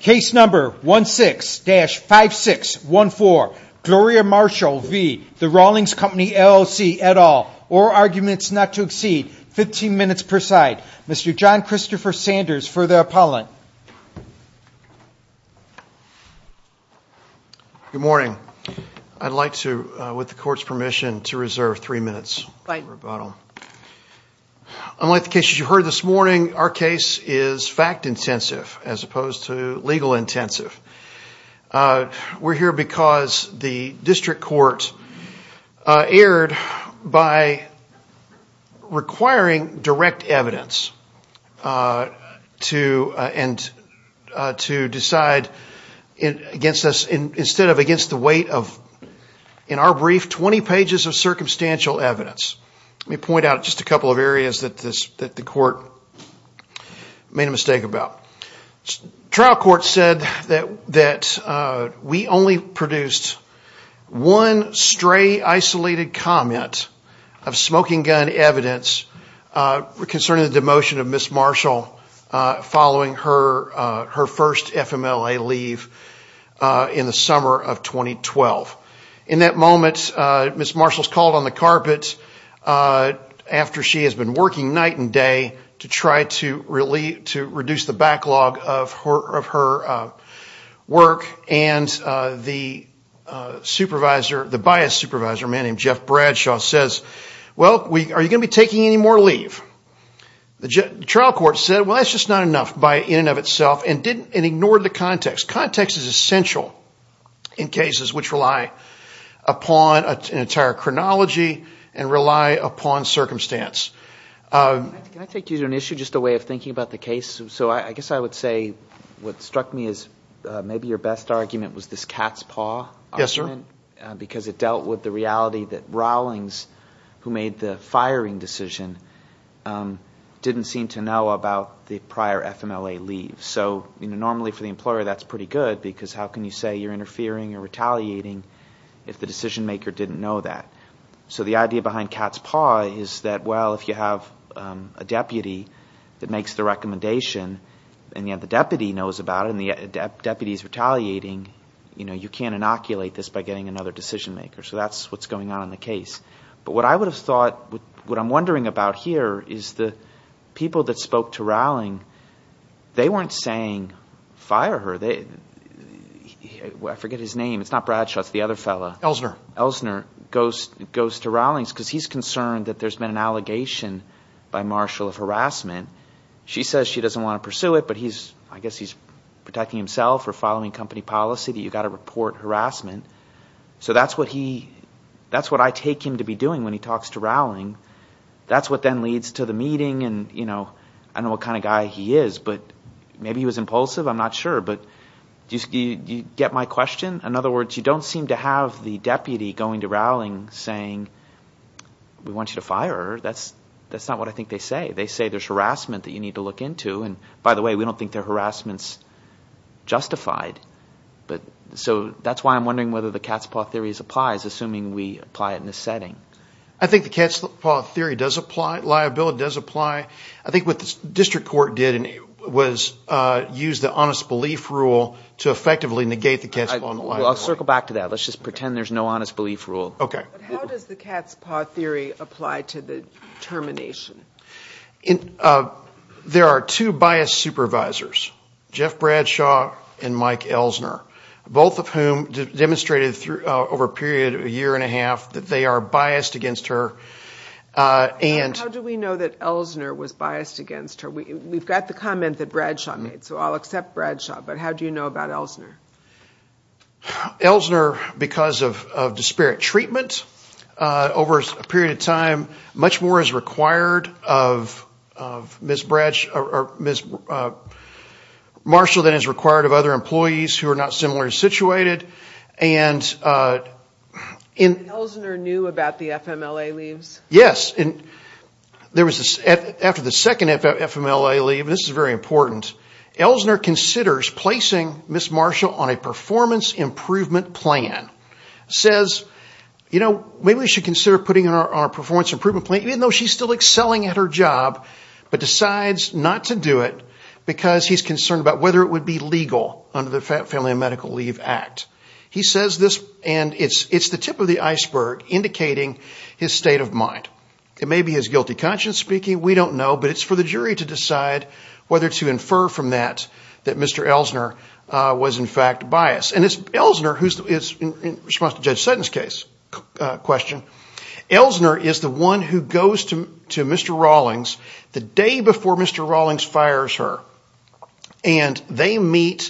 Case number 16-5614, Gloria Marshall v. The Rawlings Company LLC, et al. All arguments not to exceed 15 minutes per side. Mr. John Christopher Sanders for the appellant. Good morning. I'd like to, with the court's permission, to reserve three minutes for rebuttal. Unlike the cases you heard this morning, our case is fact-intensive as opposed to legal-intensive. We're here because the district court erred by requiring direct evidence to decide against us, instead of against the weight of, in our brief, 20 pages of circumstantial evidence. Let me point out just a couple of areas that the court made a mistake about. Trial court said that we only produced one stray, isolated comment of smoking gun evidence concerning the demotion of Ms. Marshall following her first FMLA leave in the summer of 2012. In that moment, Ms. Marshall is called on the carpet after she has been working night and day to try to reduce the backlog of her work, and the bias supervisor, a man named Jeff Bradshaw, says, well, are you going to be taking any more leave? The trial court said, well, that's just not enough in and of itself, and ignored the context. Context is essential in cases which rely upon an entire chronology and rely upon circumstance. Can I take you to an issue, just a way of thinking about the case? I guess I would say what struck me as maybe your best argument was this cat's paw argument, because it dealt with the reality that Rawlings, who made the firing decision, didn't seem to know about the prior FMLA leave. So normally for the employer, that's pretty good, because how can you say you're interfering or retaliating if the decision maker didn't know that? So the idea behind cat's paw is that, well, if you have a deputy that makes the recommendation and yet the deputy knows about it and the deputy is retaliating, you can't inoculate this by getting another decision maker. So that's what's going on in the case. But what I would have thought, what I'm wondering about here is the people that spoke to Rawlings, they weren't saying fire her. I forget his name. It's not Bradshaw. It's the other fellow. Ellsner. Ellsner goes to Rawlings because he's concerned that there's been an allegation by Marshall of harassment. She says she doesn't want to pursue it, but I guess he's protecting himself or following company policy that you've got to report harassment. So that's what I take him to be doing when he talks to Rawlings. That's what then leads to the meeting. I don't know what kind of guy he is, but maybe he was impulsive. I'm not sure. But do you get my question? In other words, you don't seem to have the deputy going to Rawlings saying we want you to fire her. That's not what I think they say. They say there's harassment that you need to look into. And, by the way, we don't think their harassment's justified. So that's why I'm wondering whether the cat's paw theory applies, assuming we apply it in this setting. I think the cat's paw theory does apply. Liability does apply. I think what the district court did was use the honest belief rule to effectively negate the cat's paw and liability. I'll circle back to that. Let's just pretend there's no honest belief rule. Okay. How does the cat's paw theory apply to the termination? There are two biased supervisors, Jeff Bradshaw and Mike Ellsner, both of whom demonstrated over a period of a year and a half that they are biased against her. How do we know that Ellsner was biased against her? We've got the comment that Bradshaw made, so I'll accept Bradshaw. But how do you know about Ellsner? Ellsner, because of disparate treatment over a period of time, much more is required of Ms. Marshall than is required of other employees who are not similarly situated. Ellsner knew about the FMLA leaves? Yes. After the second FMLA leave, this is very important, Ellsner considers placing Ms. Marshall on a performance improvement plan. He says, maybe we should consider putting her on a performance improvement plan, even though she's still excelling at her job, but decides not to do it because he's concerned about whether it would be legal under the Family and Medical Leave Act. He says this, and it's the tip of the iceberg indicating his state of mind. It may be his guilty conscience speaking, we don't know, but it's for the jury to decide whether to infer from that that Mr. Ellsner was in fact biased. In response to Judge Sutton's question, Ellsner is the one who goes to Mr. Rawlings the day before Mr. Rawlings fires her. They meet,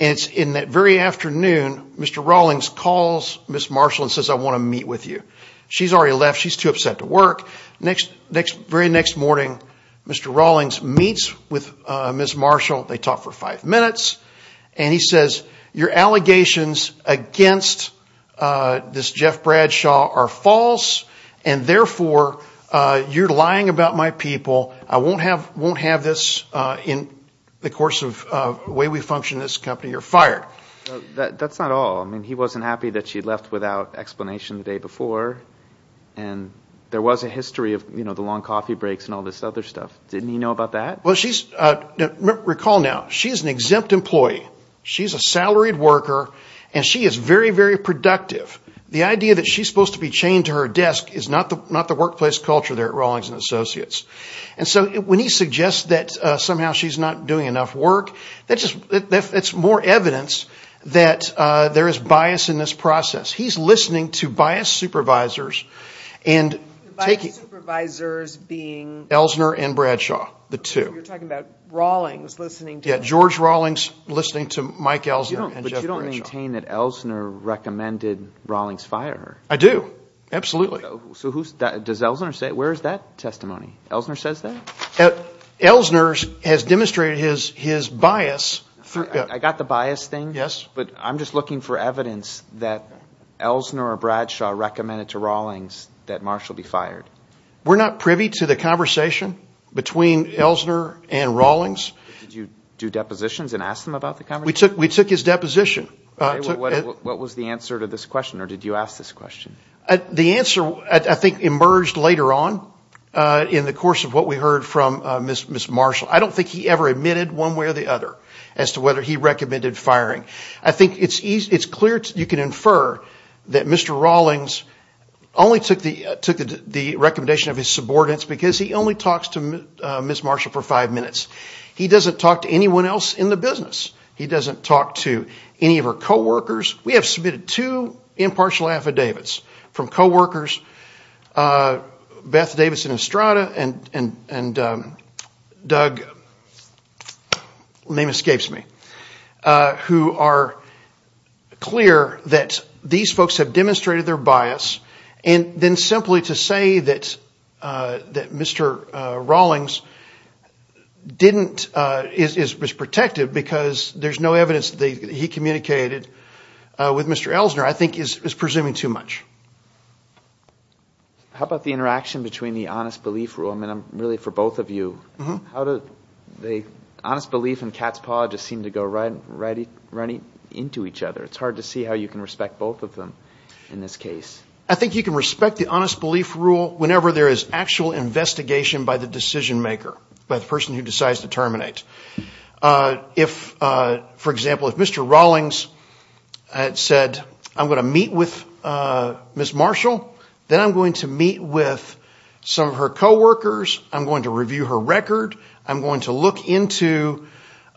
and it's in that very afternoon, Mr. Rawlings calls Ms. Marshall and says, I want to meet with you. She's already left, she's too upset to work. The very next morning, Mr. Rawlings meets with Ms. Marshall, they talk for five minutes, and he says, your allegations against this Jeff Bradshaw are false, and therefore you're lying about my people. I won't have this in the course of the way we function in this company, you're fired. That's not all. He wasn't happy that she left without explanation the day before, and there was a history of the long coffee breaks and all this other stuff. Didn't he know about that? Recall now, she's an exempt employee. She's a salaried worker, and she is very, very productive. The idea that she's supposed to be chained to her desk is not the workplace culture there at Rawlings and Associates. And so when he suggests that somehow she's not doing enough work, that's more evidence that there is bias in this process. He's listening to biased supervisors. Biased supervisors being? Elsner and Bradshaw, the two. You're talking about Rawlings listening to? Yeah, George Rawlings listening to Mike Elsner and Jeff Bradshaw. But you don't maintain that Elsner recommended Rawlings fire her. I do, absolutely. So who's that? Does Elsner say? Where is that testimony? Elsner says that? Elsner has demonstrated his bias. I got the bias thing. Yes. But I'm just looking for evidence that Elsner or Bradshaw recommended to Rawlings that Marshall be fired. We're not privy to the conversation between Elsner and Rawlings. Did you do depositions and ask them about the conversation? We took his deposition. What was the answer to this question, or did you ask this question? The answer, I think, emerged later on in the course of what we heard from Ms. Marshall. I don't think he ever admitted one way or the other as to whether he recommended firing. I think it's clear you can infer that Mr. Rawlings only took the recommendation of his subordinates because he only talks to Ms. Marshall for five minutes. He doesn't talk to anyone else in the business. He doesn't talk to any of her coworkers. We have submitted two impartial affidavits from coworkers, Beth Davidson Estrada and Doug, name escapes me, who are clear that these folks have demonstrated their bias. Then simply to say that Mr. Rawlings was protective because there's no evidence that he communicated with Mr. Elsner, I think is presuming too much. How about the interaction between the honest belief rule? I'm really for both of you. The honest belief and cat's paw just seem to go right into each other. It's hard to see how you can respect both of them in this case. I think you can respect the honest belief rule whenever there is actual investigation by the decision maker, by the person who decides to terminate. For example, if Mr. Rawlings had said, I'm going to meet with Ms. Marshall, then I'm going to meet with some of her coworkers. I'm going to review her record. I'm going to look into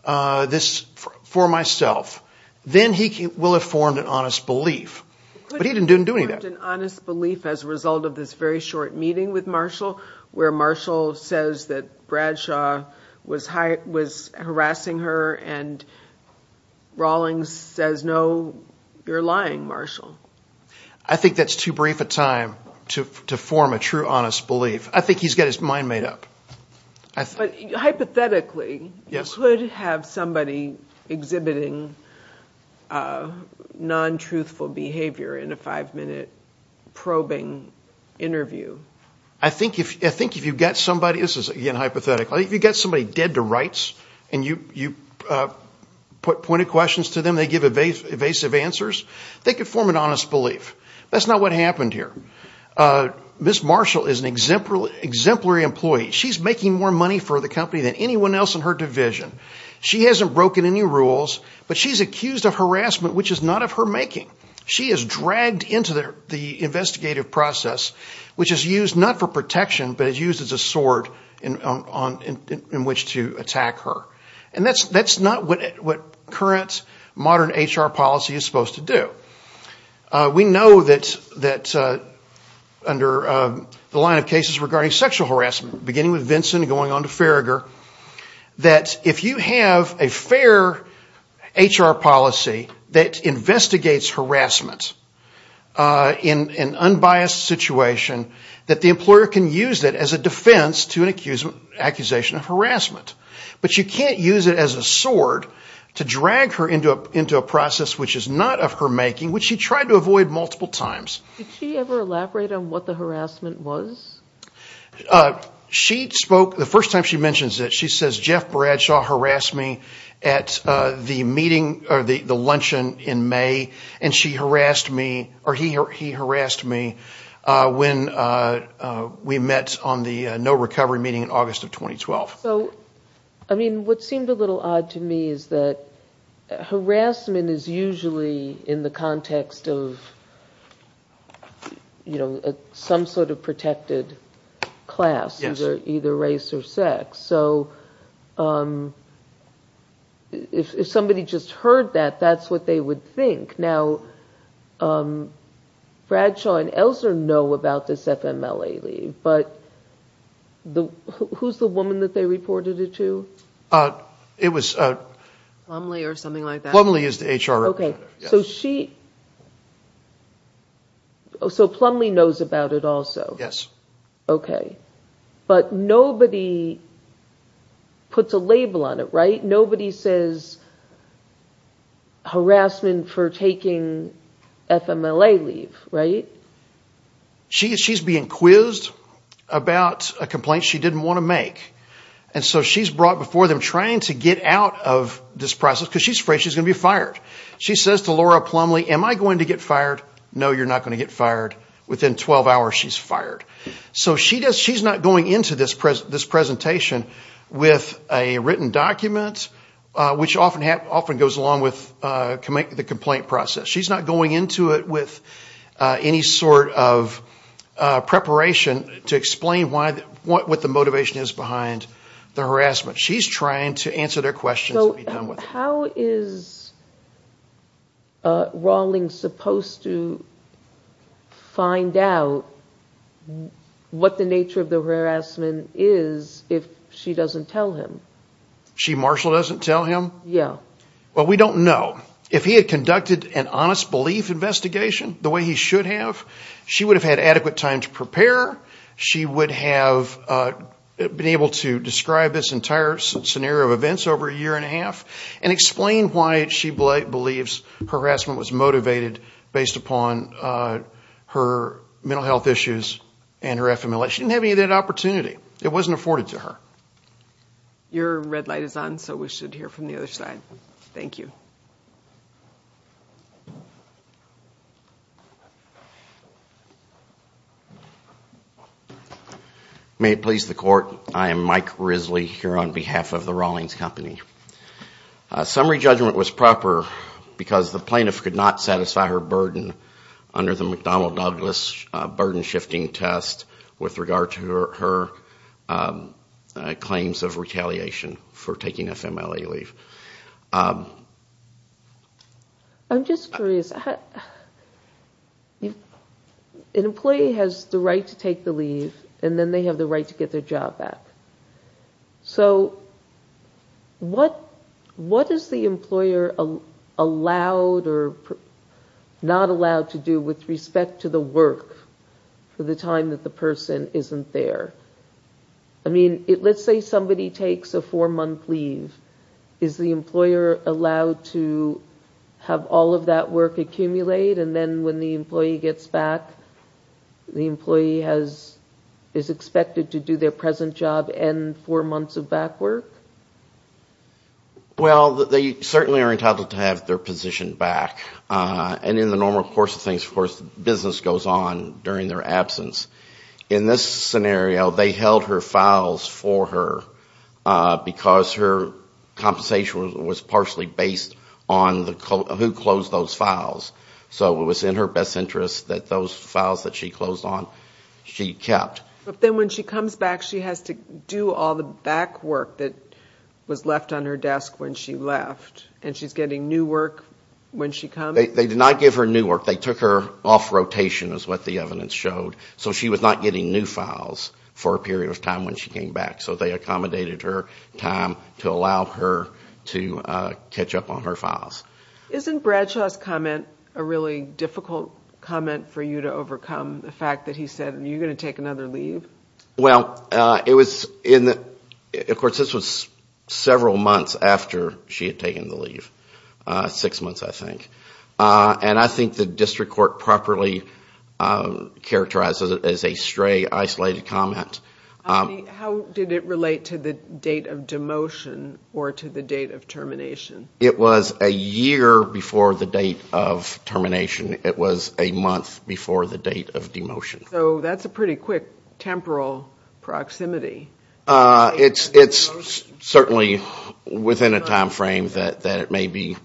this for myself. Then he will have formed an honest belief. But he didn't do any of that. Could he have formed an honest belief as a result of this very short meeting with Marshall, where Marshall says that Bradshaw was harassing her and Rawlings says, no, you're lying, Marshall. I think that's too brief a time to form a true honest belief. I think he's got his mind made up. Hypothetically, you could have somebody exhibiting non-truthful behavior in a five-minute probing interview. I think if you've got somebody dead to rights and you pointed questions to them, they give evasive answers, they could form an honest belief. That's not what happened here. Ms. Marshall is an exemplary employee. She's making more money for the company than anyone else in her division. She hasn't broken any rules, but she's accused of harassment which is not of her making. She is dragged into the investigative process, which is used not for protection, but is used as a sword in which to attack her. That's not what current modern HR policy is supposed to do. We know that under the line of cases regarding sexual harassment, beginning with Vincent and going on to Farragher, that if you have a fair HR policy that investigates harassment in an unbiased situation, that the employer can use it as a defense to an accusation of harassment. But you can't use it as a sword to drag her into a process which is not of her making, which she tried to avoid multiple times. Did she ever elaborate on what the harassment was? The first time she mentions it, she says Jeff Bradshaw harassed me at the luncheon in May, and he harassed me when we met on the no recovery meeting in August of 2012. So what seemed a little odd to me is that harassment is usually in the context of some sort of protected class, either race or sex. So if somebody just heard that, that's what they would think. Now Bradshaw and Elsner know about this FMLA leave, but who's the woman that they reported it to? Plumlee or something like that. Plumlee is the HR representative. So Plumlee knows about it also? Yes. Okay. But nobody puts a label on it, right? Harassment for taking FMLA leave, right? She's being quizzed about a complaint she didn't want to make. And so she's brought before them trying to get out of this process because she's afraid she's going to be fired. She says to Laura Plumlee, am I going to get fired? No, you're not going to get fired. Within 12 hours, she's fired. So she's not going into this presentation with a written document, which often goes along with the complaint process. She's not going into it with any sort of preparation to explain what the motivation is behind the harassment. She's trying to answer their questions and be done with it. How is Rawlings supposed to find out what the nature of the harassment is if she doesn't tell him? She marshal doesn't tell him? Yeah. Well, we don't know. If he had conducted an honest belief investigation the way he should have, she would have had adequate time to prepare. She would have been able to describe this entire scenario of events over a year and a half and explain why she believes harassment was motivated based upon her mental health issues and her FMLA. She didn't have any of that opportunity. It wasn't afforded to her. Your red light is on, so we should hear from the other side. Thank you. May it please the Court, I am Mike Risley here on behalf of the Rawlings Company. Summary judgment was proper because the plaintiff could not satisfy her burden under the McDonnell-Douglas burden shifting test with regard to her claims of retaliation for taking FMLA leave. I'm just curious. An employee has the right to take the leave and then they have the right to get their job back. So what is the employer allowed or not allowed to do with respect to the work for the time that the person isn't there? I mean, let's say somebody takes a four-month leave. Is the employer allowed to have all of that work accumulate and then when the employee gets back, the employee is expected to do their present job and four months of back work? Well, they certainly are entitled to have their position back. And in the normal course of things, of course, business goes on during their absence. In this scenario, they held her files for her because her compensation was partially based on who closed those files. So it was in her best interest that those files that she closed on, she kept. But then when she comes back, she has to do all the back work that was left on her desk when she left. And she's getting new work when she comes? They did not give her new work. They took her off rotation is what the evidence showed. So she was not getting new files for a period of time when she came back. So they accommodated her time to allow her to catch up on her files. Isn't Bradshaw's comment a really difficult comment for you to overcome, the fact that he said, are you going to take another leave? Well, it was in the, of course, this was several months after she had taken the leave. Six months, I think. And I think the district court properly characterized it as a stray, isolated comment. How did it relate to the date of demotion or to the date of termination? It was a year before the date of termination. It was a month before the date of demotion. So that's a pretty quick temporal proximity. It's certainly within a time frame that it may be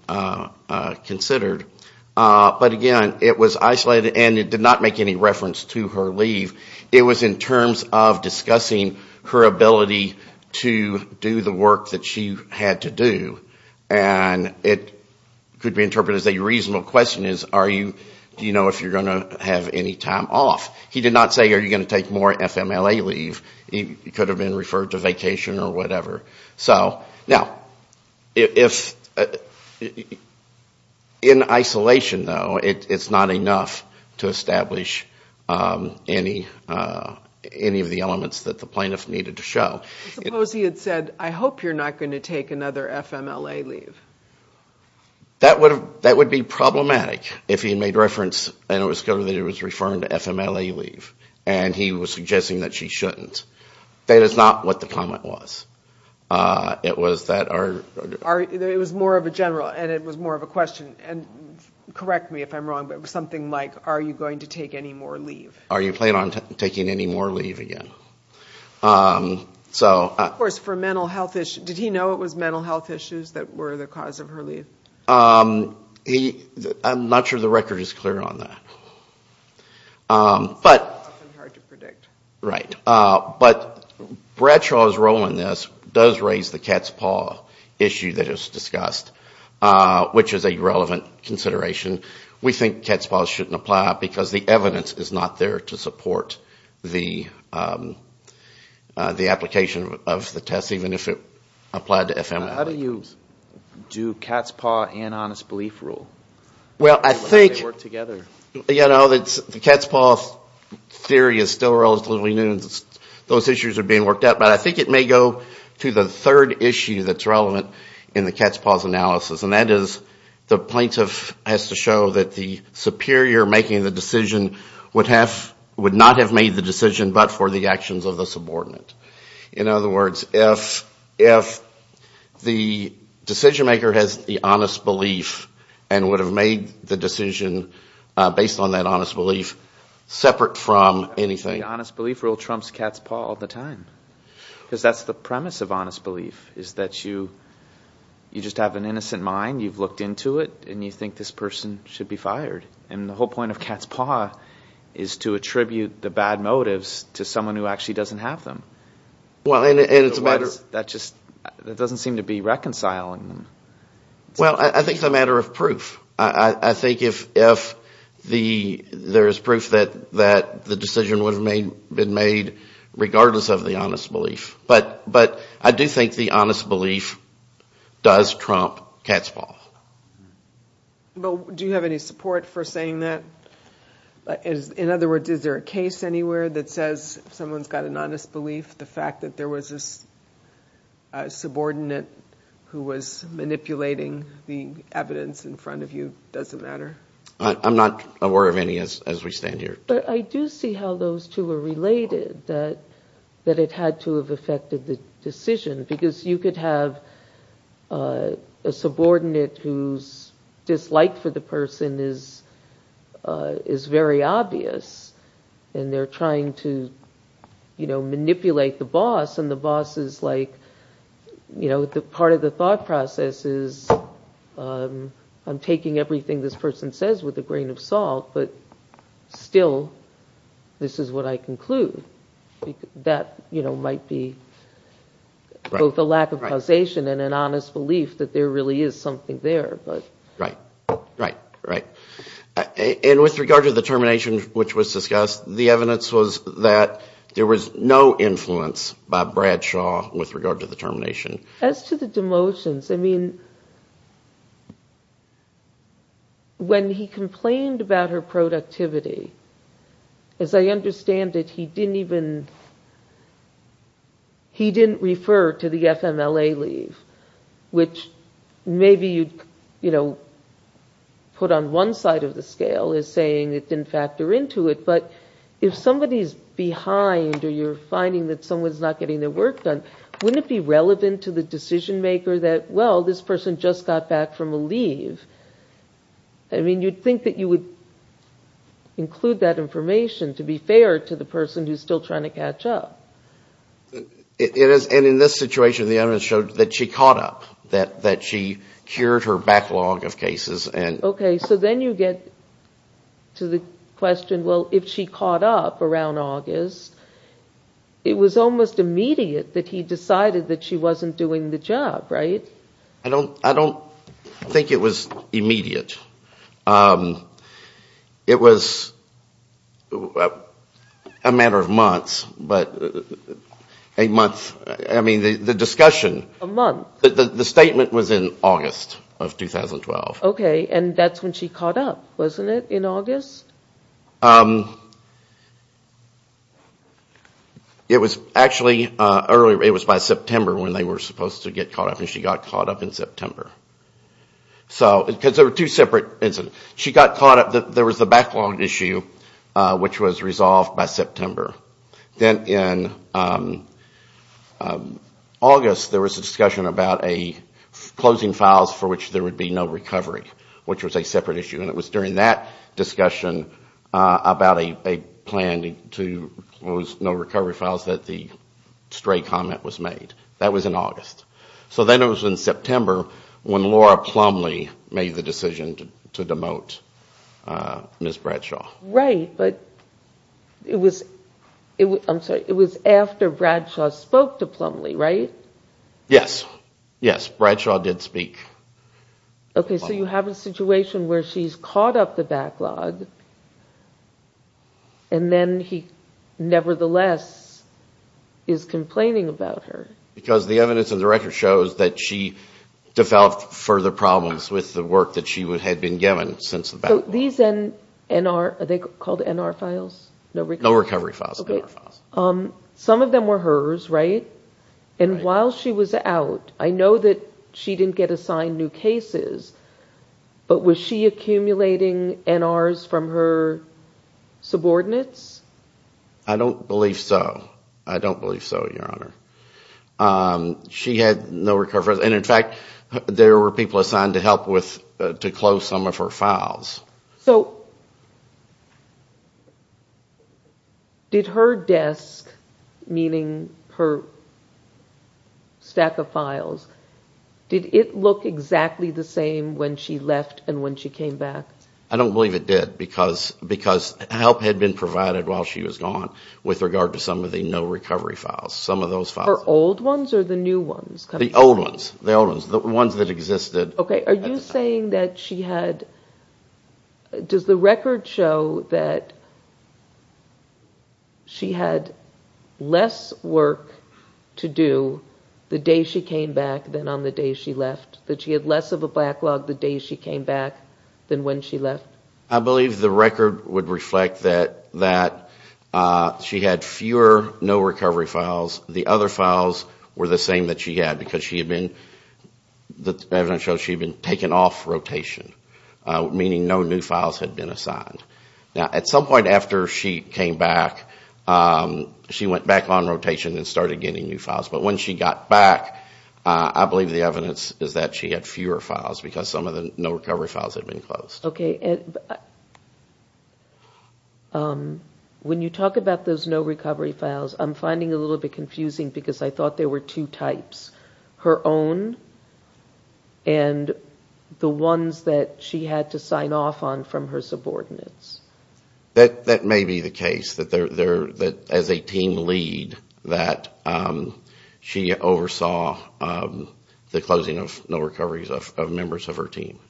considered. But again, it was isolated and it did not make any reference to her leave. It was in terms of discussing her ability to do the work that she had to do. And it could be interpreted as a reasonable question is, do you know if you're going to have any time off? He did not say, are you going to take more FMLA leave? It could have been referred to vacation or whatever. Now, in isolation, though, it's not enough to establish any of the elements that the plaintiff needed to show. Suppose he had said, I hope you're not going to take another FMLA leave. That would be problematic if he made reference and it was clear that it was referring to FMLA leave. And he was suggesting that she shouldn't. That is not what the comment was. It was that our... It was more of a general and it was more of a question. And correct me if I'm wrong, but it was something like, are you going to take any more leave? Are you planning on taking any more leave again? Of course, for mental health issues. Did he know it was mental health issues that were the cause of her leave? I'm not sure the record is clear on that. It's often hard to predict. Right. But Bradshaw's role in this does raise the cat's paw issue that is discussed, which is a relevant consideration. We think cat's paws shouldn't apply because the evidence is not there to support the application of the test, even if it applied to FMLA. How do you do cat's paw and honest belief rule? Well, I think... They work together. The cat's paw theory is still relatively new. Those issues are being worked out. But I think it may go to the third issue that's relevant in the cat's paws analysis. And that is the plaintiff has to show that the superior making the decision would not have made the decision but for the actions of the subordinate. In other words, if the decision maker has the honest belief and would have made the decision based on that honest belief separate from anything... The honest belief rule trumps cat's paw all the time. Because that's the premise of honest belief. You just have an innocent mind. You've looked into it. And you think this person should be fired. And the whole point of cat's paw is to attribute the bad motives to someone who actually doesn't have them. That doesn't seem to be reconciling them. Well, I think it's a matter of proof. I think if there is proof that the decision would have been made regardless of the honest belief. But I do think the honest belief does trump cat's paw. Do you have any support for saying that? In other words, is there a case anywhere that says if someone's got an honest belief, the fact that there was a subordinate who was manipulating the evidence in front of you doesn't matter? I'm not aware of any as we stand here. But I do see how those two are related. That it had to have affected the decision. Because you could have a subordinate whose dislike for the person is very obvious. And they're trying to manipulate the boss. And the boss is like... Part of the thought process is... I'm taking everything this person says with a grain of salt. But still, this is what I conclude. That might be both a lack of causation and an honest belief that there really is something there. Right. And with regard to the termination which was discussed, the evidence was that there was no influence by Bradshaw with regard to the termination. As to the demotions, I mean... When he complained about her productivity, as I understand it, he didn't even... He didn't refer to the FMLA leave. Which maybe you'd put on one side of the scale as saying it didn't factor into it. But if somebody's behind or you're finding that someone's not getting their work done, wouldn't it be relevant to the decision maker that, well, this person just got back from a leave? I mean, you'd think that you would include that information to be fair to the person who's still trying to catch up. And in this situation, the evidence showed that she caught up. That she cured her backlog of cases. Okay. So then you get to the question, well, if she caught up around August, it was almost immediate that he decided that she wasn't doing the job, right? I don't think it was immediate. It was a matter of months, but... I mean, the discussion... A month? The statement was in August of 2012. Okay, and that's when she caught up, wasn't it, in August? It was actually earlier, it was by September when they were supposed to get caught up and she got caught up in September. Because there were two separate incidents. She got caught up, there was the backlog issue, which was resolved by September. Then in August, there was a discussion about closing files for which there would be no recovery, which was a separate issue. And it was during that discussion about a plan to close no recovery files that the stray comment was made. That was in August. So then it was in September when Laura Plumlee made the decision to demote Ms. Bradshaw. Right, but it was after Bradshaw spoke to Plumlee, right? Yes. Yes, Bradshaw did speak. Okay, so you have a situation where she's caught up the backlog and then he nevertheless is complaining about her. Because the evidence in the record shows that she developed further problems with the work that she had been given since the backlog. So these NR, are they called NR files? No recovery files. Some of them were hers, right? And while she was out, I know that she didn't get assigned new cases, but was she accumulating NRs from her subordinates? I don't believe so. I don't believe so, Your Honor. She had no recovery. And in fact, there were people assigned to help with, to close some of her files. So did her desk, meaning her stack of files, did it look exactly the same when she left and when she came back? I don't believe it did, because help had been provided while she was gone with regard to some of the no recovery files, some of those files. Her old ones or the new ones? The old ones, the ones that existed. Okay, are you saying that she had, does the record show that she had less work to do the day she came back than on the day she left? That she had less of a backlog the day she came back than when she left? I believe the record would reflect that she had fewer no recovery files. The other files were the same that she had, because she had been, the evidence shows she had been taken off rotation, meaning no new files had been assigned. Now, at some point after she came back, she went back on rotation and started getting new files. But when she got back, I believe the evidence is that she had fewer files, because some of the no recovery files had been closed. Okay. When you talk about those no recovery files, I'm finding a little bit confusing. Because I thought there were two types. Her own and the ones that she had to sign off on from her subordinates. That may be the case. That as a team lead, that she oversaw the closing of no recoveries of members of her team.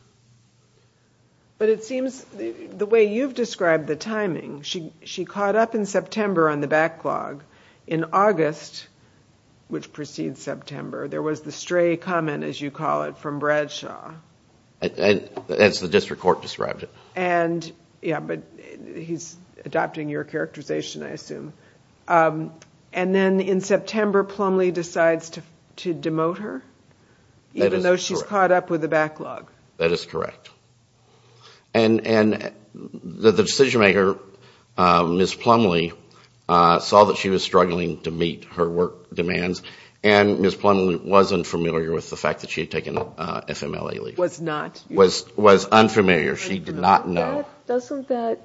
But it seems, the way you've described the timing, she caught up in September on the backlog. In August, which precedes September, there was the stray comment, as you call it, from Bradshaw. As the district court described it. Yeah, but he's adopting your characterization, I assume. And then in September, Plumlee decides to demote her, even though she's caught up with the backlog. That is correct. And the decision maker, Ms. Plumlee, saw that she was struggling to meet her work demands. And Ms. Plumlee wasn't familiar with the fact that she had taken FMLA leave. Was not. Was unfamiliar. She did not know. Doesn't that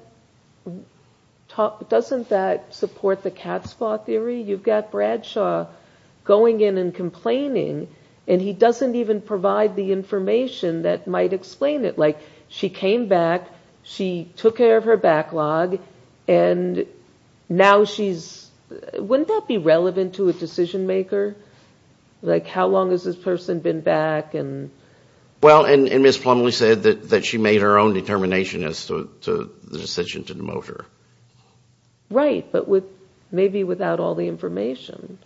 support the cat's paw theory? You've got Bradshaw going in and complaining, and he doesn't even provide the information that might explain it. Like, she came back, she took care of her backlog, and now she's... Wouldn't that be relevant to a decision maker? Like, how long has this person been back? Well, and Ms. Plumlee said that she made her own determination as to the decision to demote her. Right, but maybe without all the information.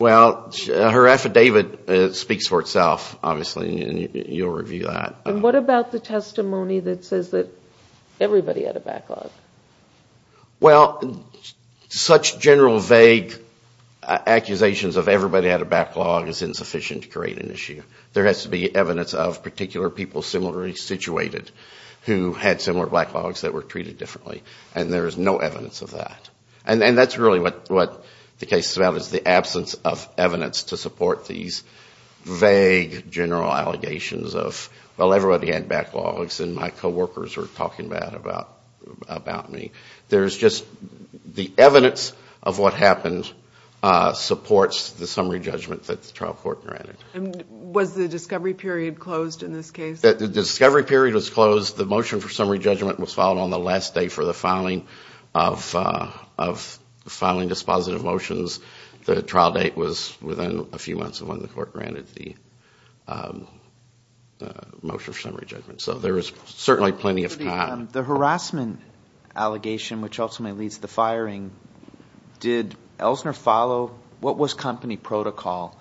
Well, her affidavit speaks for itself, obviously, and you'll review that. And what about the testimony that says that everybody had a backlog? Well, such general vague accusations of everybody had a backlog is insufficient to create an issue. There has to be evidence of particular people similarly situated who had similar backlogs that were treated differently. And there is no evidence of that. And that's really what the case is about, is the absence of evidence to support these vague general allegations of, well, everybody had backlogs, and my co-workers were talking bad about me. There's just... The evidence of what happened supports the summary judgment that the trial court granted. And was the discovery period closed in this case? The discovery period was closed. The motion for summary judgment was filed on the last day for the filing of filing dispositive motions. The trial date was within a few months of when the court granted the motion for summary judgment. So there is certainly plenty of time. The harassment allegation, which ultimately leads to the firing, did Elsner follow? What was company protocol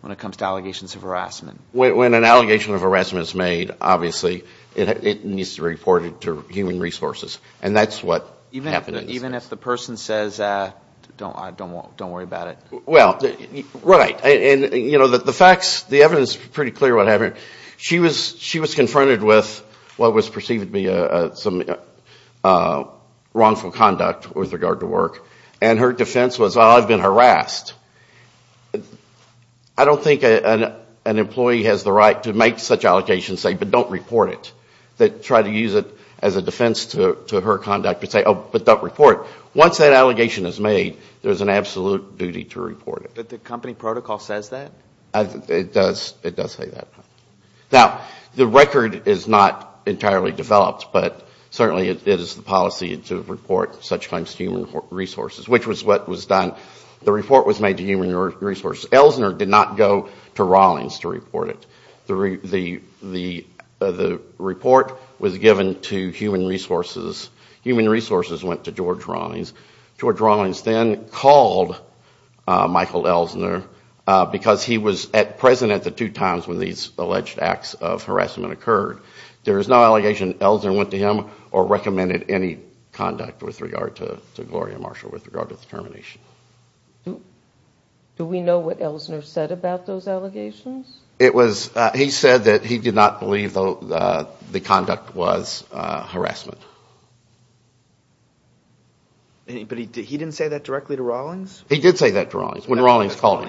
when it comes to allegations of harassment? When an allegation of harassment is made, obviously, it needs to be reported to human resources. And that's what happened in this case. Don't worry about it. Right. The evidence is pretty clear what happened. She was confronted with what was perceived to be some wrongful conduct with regard to work. And her defense was, well, I've been harassed. I don't think an employee has the right to make such allegations and say, but don't report it. Try to use it as a defense to her conduct and say, oh, but don't report it. Once that allegation is made, there is an absolute duty to report it. But the company protocol says that? It does say that. Now, the record is not entirely developed, but certainly it is the policy to report such claims to human resources, which was what was done. The report was made to human resources. Elsner did not go to Rawlings to report it. The report was given to human resources. Human resources went to George Rawlings. George Rawlings then called Michael Elsner because he was at present at the two times when these alleged acts of harassment occurred. There is no allegation Elsner went to him or recommended any conduct with regard to Gloria Marshall with regard to the termination. Do we know what Elsner said about those allegations? He said that he did not believe the conduct was harassment. He didn't say that directly to Rawlings? He did say that to Rawlings when Rawlings called him.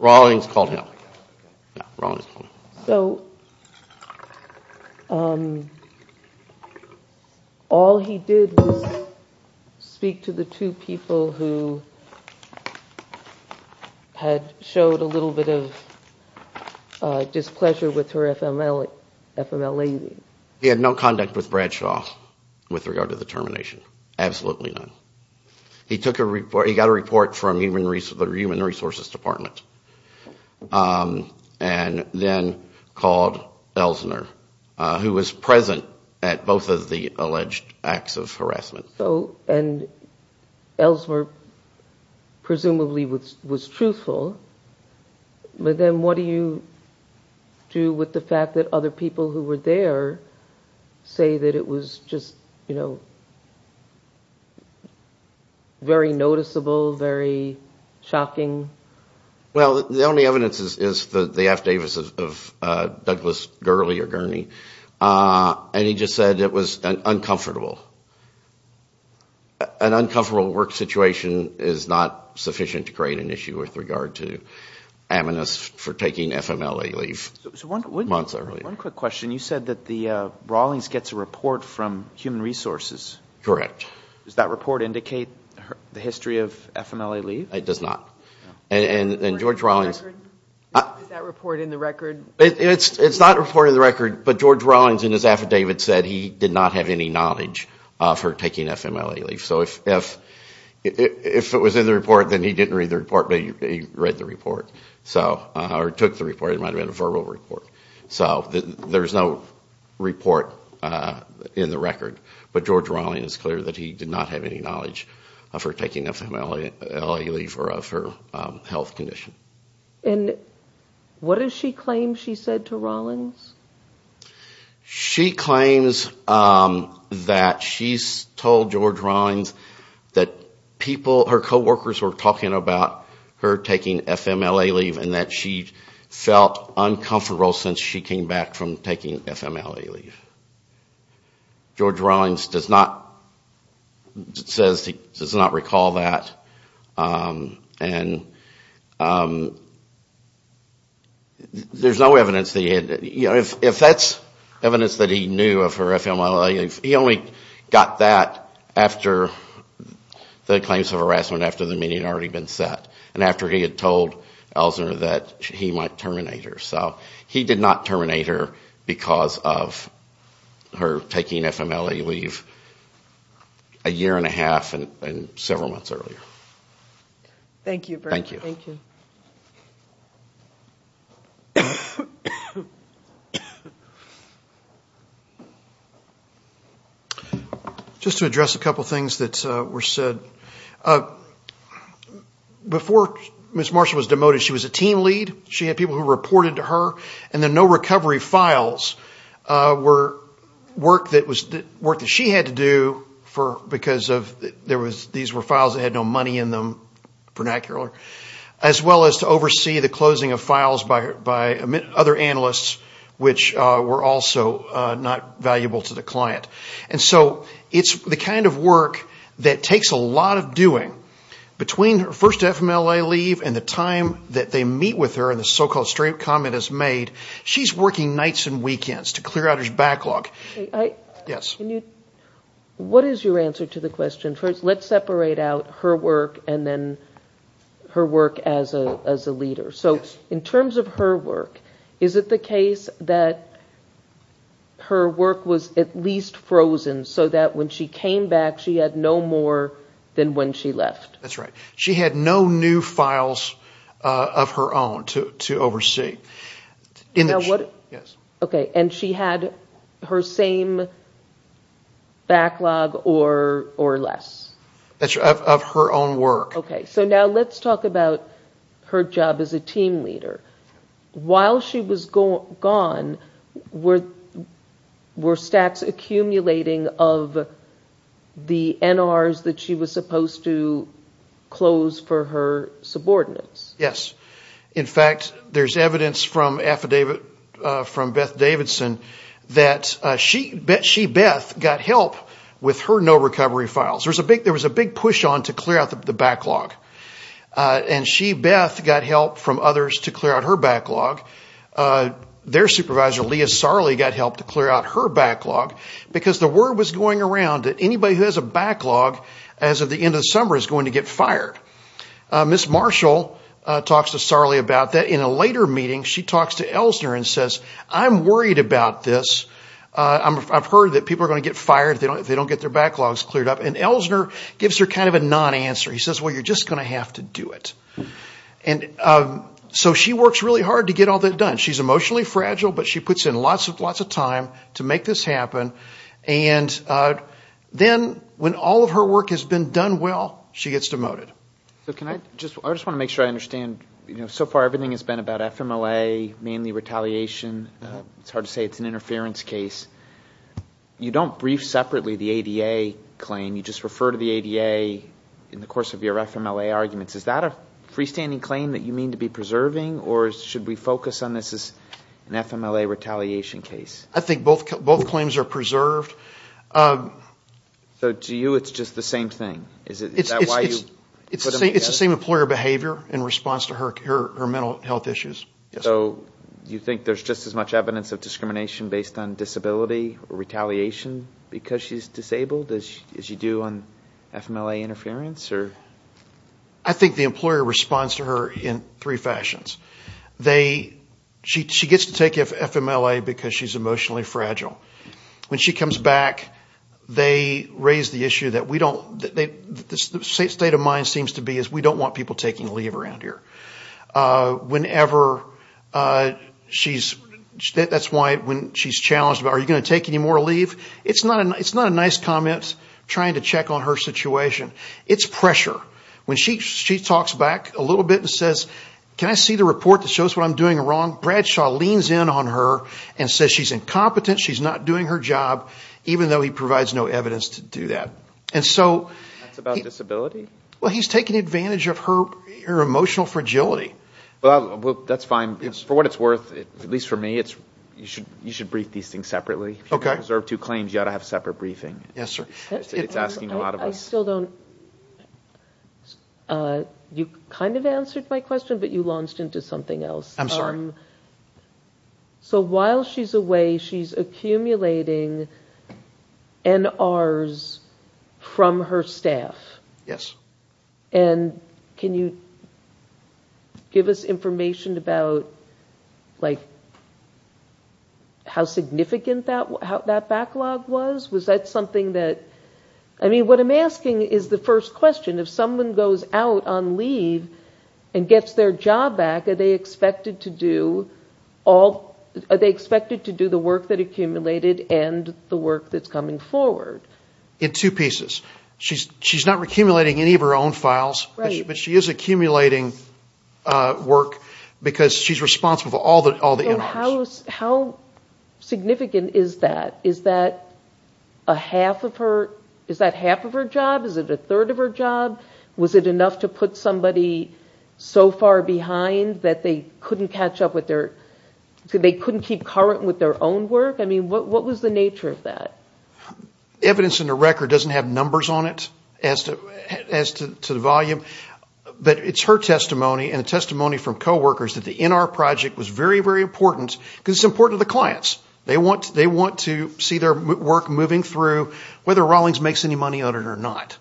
Rawlings called him. All he did was speak to the two people who had showed a little bit of displeasure with her FMLA. He had no conduct with Bradshaw with regard to the termination. Absolutely none. He got a report from the human resources department and then called Elsner, who was present at both of the alleged acts of harassment. Elsner presumably was truthful, but then what do you do with the fact that other people who were there say that it was just very noticeable, very shocking? Well, the only evidence is the affidavits of Douglas Gurney and he just said it was uncomfortable. An uncomfortable work situation is not sufficient to create an issue with regard to amnesty for taking FMLA leave months earlier. One quick question. You said that Rawlings gets a report from human resources. Correct. Does that report indicate the history of FMLA leave? It does not. Is that report in the record? It's not reported in the record, but George Rawlings in his affidavit said he did not have any knowledge of her taking FMLA leave. So if it was in the report, then he didn't read the report, or took the report. It might have been a verbal report. So there's no report in the record, but George Rawlings is clear that he did not have any knowledge of her taking FMLA leave or of her health condition. And what does she claim she said to Rawlings? She claims that she told George Rawlings that her co-workers were talking about her taking FMLA leave and that she felt uncomfortable since she came back from taking FMLA leave. George Rawlings does not recall that and there's no evidence. If that's evidence that he knew of her FMLA leave, he only got that after the claims of harassment after the meeting had already been set and after he had told Ellsner that he might terminate her. So he did not terminate her because of her taking FMLA leave a year and a half and several months earlier. Thank you. Just to address a couple things that were said. Before Ms. Marshall was demoted, she was a team lead. She had people who reported to her and the no recovery files were work that she had to do because these were files that had no money in them. As well as to oversee the closing of files by other analysts which were also not valuable to the client. And so it's the kind of work that takes a lot of doing between her first FMLA leave and the time that they meet with her and the so-called straight comment is made. She's working nights and weekends to clear out her backlog. What is your answer to the question? First let's separate out her work and then her work as a leader. In terms of her work, is it the case that her work was at least frozen so that when she came back she had no more than when she left? That's right. She had no new files of her own to oversee. And she had her same backlog or less? Of her own work. Now let's talk about her job as a team leader. While she was gone were stacks accumulating of the NRs that she was supposed to close for her subordinates? Yes. In fact, there's evidence from Beth Davidson that she, Beth, got help with her no recovery files. There was a big push on to clear out the backlog. And she, Beth, got help from others to clear out her backlog. Their supervisor, Leah Sarli, got help to clear out her backlog because the word was going around that anybody who has a backlog at the end of the summer is going to get fired. Ms. Marshall talks to Sarli about that. In a later meeting, she talks to Ellsner and says, I'm worried about this. I've heard that people are going to get fired if they don't get their backlogs cleared up. And Ellsner gives her kind of a non-answer. He says, well, you're just going to have to do it. So she works really hard to get all that done. She's emotionally fragile, but she puts in lots of time to make this happen. And then when all of her work has been done well, she gets demoted. I just want to make sure I understand. So far, everything has been about FMLA, mainly retaliation. It's hard to say it's an interference case. You don't brief separately the ADA claim. You just refer to the ADA in the course of your FMLA arguments. Is that a freestanding claim that you mean to be preserving? Or should we focus on this as an FMLA retaliation case? I think both claims are preserved. So to you, it's just the same thing? Is that why you put them together? It's the same employer behavior in response to her mental health issues. So you think there's just as much evidence of discrimination based on disability or retaliation because she's disabled as you do on FMLA interference? I think the employer responds to her in three fashions. She gets to take FMLA because she's emotionally fragile. When she comes back, they raise the issue that we don't want people taking leave around here. That's why when she's challenged, are you going to take any more leave? It's not a nice comment trying to check on her situation. It's pressure. When she talks back a little bit and says, can I see the report that shows what I'm doing wrong? Bradshaw leans in on her and says she's incompetent, she's not doing her job, even though he provides no evidence to do that. That's about disability? He's taking advantage of her emotional fragility. That's fine. For what it's worth, at least for me, you should brief these things separately. If you preserve two claims, you ought to have a separate briefing. You kind of answered my question, but you launched into something else. While she's away, she's accumulating NRs from her staff. Can you give us information about how significant that backlog was? What I'm asking is the first question. If someone goes out on leave and gets their job back, are they expected to do the work that accumulated and the work that's coming forward? In two pieces. She's not accumulating any of her own files, but she is accumulating work because she's responsible for all the NRs. How significant is that? Is that half of her job? Is it a third of her job? Was it enough to put somebody so far behind that they couldn't keep current with their own work? What was the nature of that? Evidence in the record doesn't have numbers on it as to the volume, but it's her testimony and the testimony from coworkers that the NR project was very, very important because it's important to the clients. They want to see their work moving through, whether Rawlings makes any money on it or not.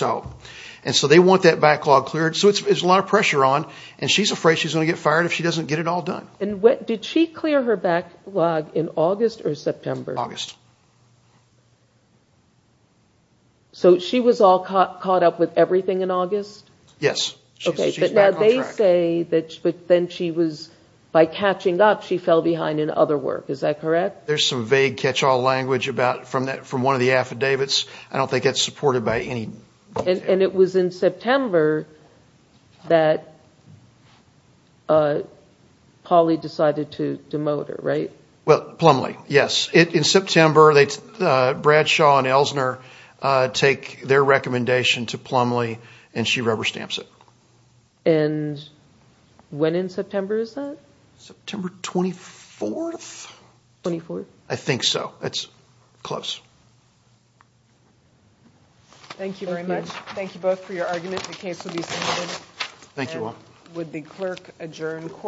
They want that backlog cleared, so there's a lot of pressure on. She's afraid she's going to get fired if she doesn't get it all done. Did she clear her backlog in August or September? August. She was all caught up with everything in August? Yes. They say that by catching up, she fell behind in other work. Is that correct? There's some vague catch-all language from one of the affidavits. I don't think it's supported by any... It was in September that Pauley decided to demote her, right? Plumlee, yes. In September, Bradshaw and Elsner take their recommendation to Plumlee and she rubber stamps it. When in September is that? September 24th? I think so. It's close. Thank you very much. Thank you both for your argument.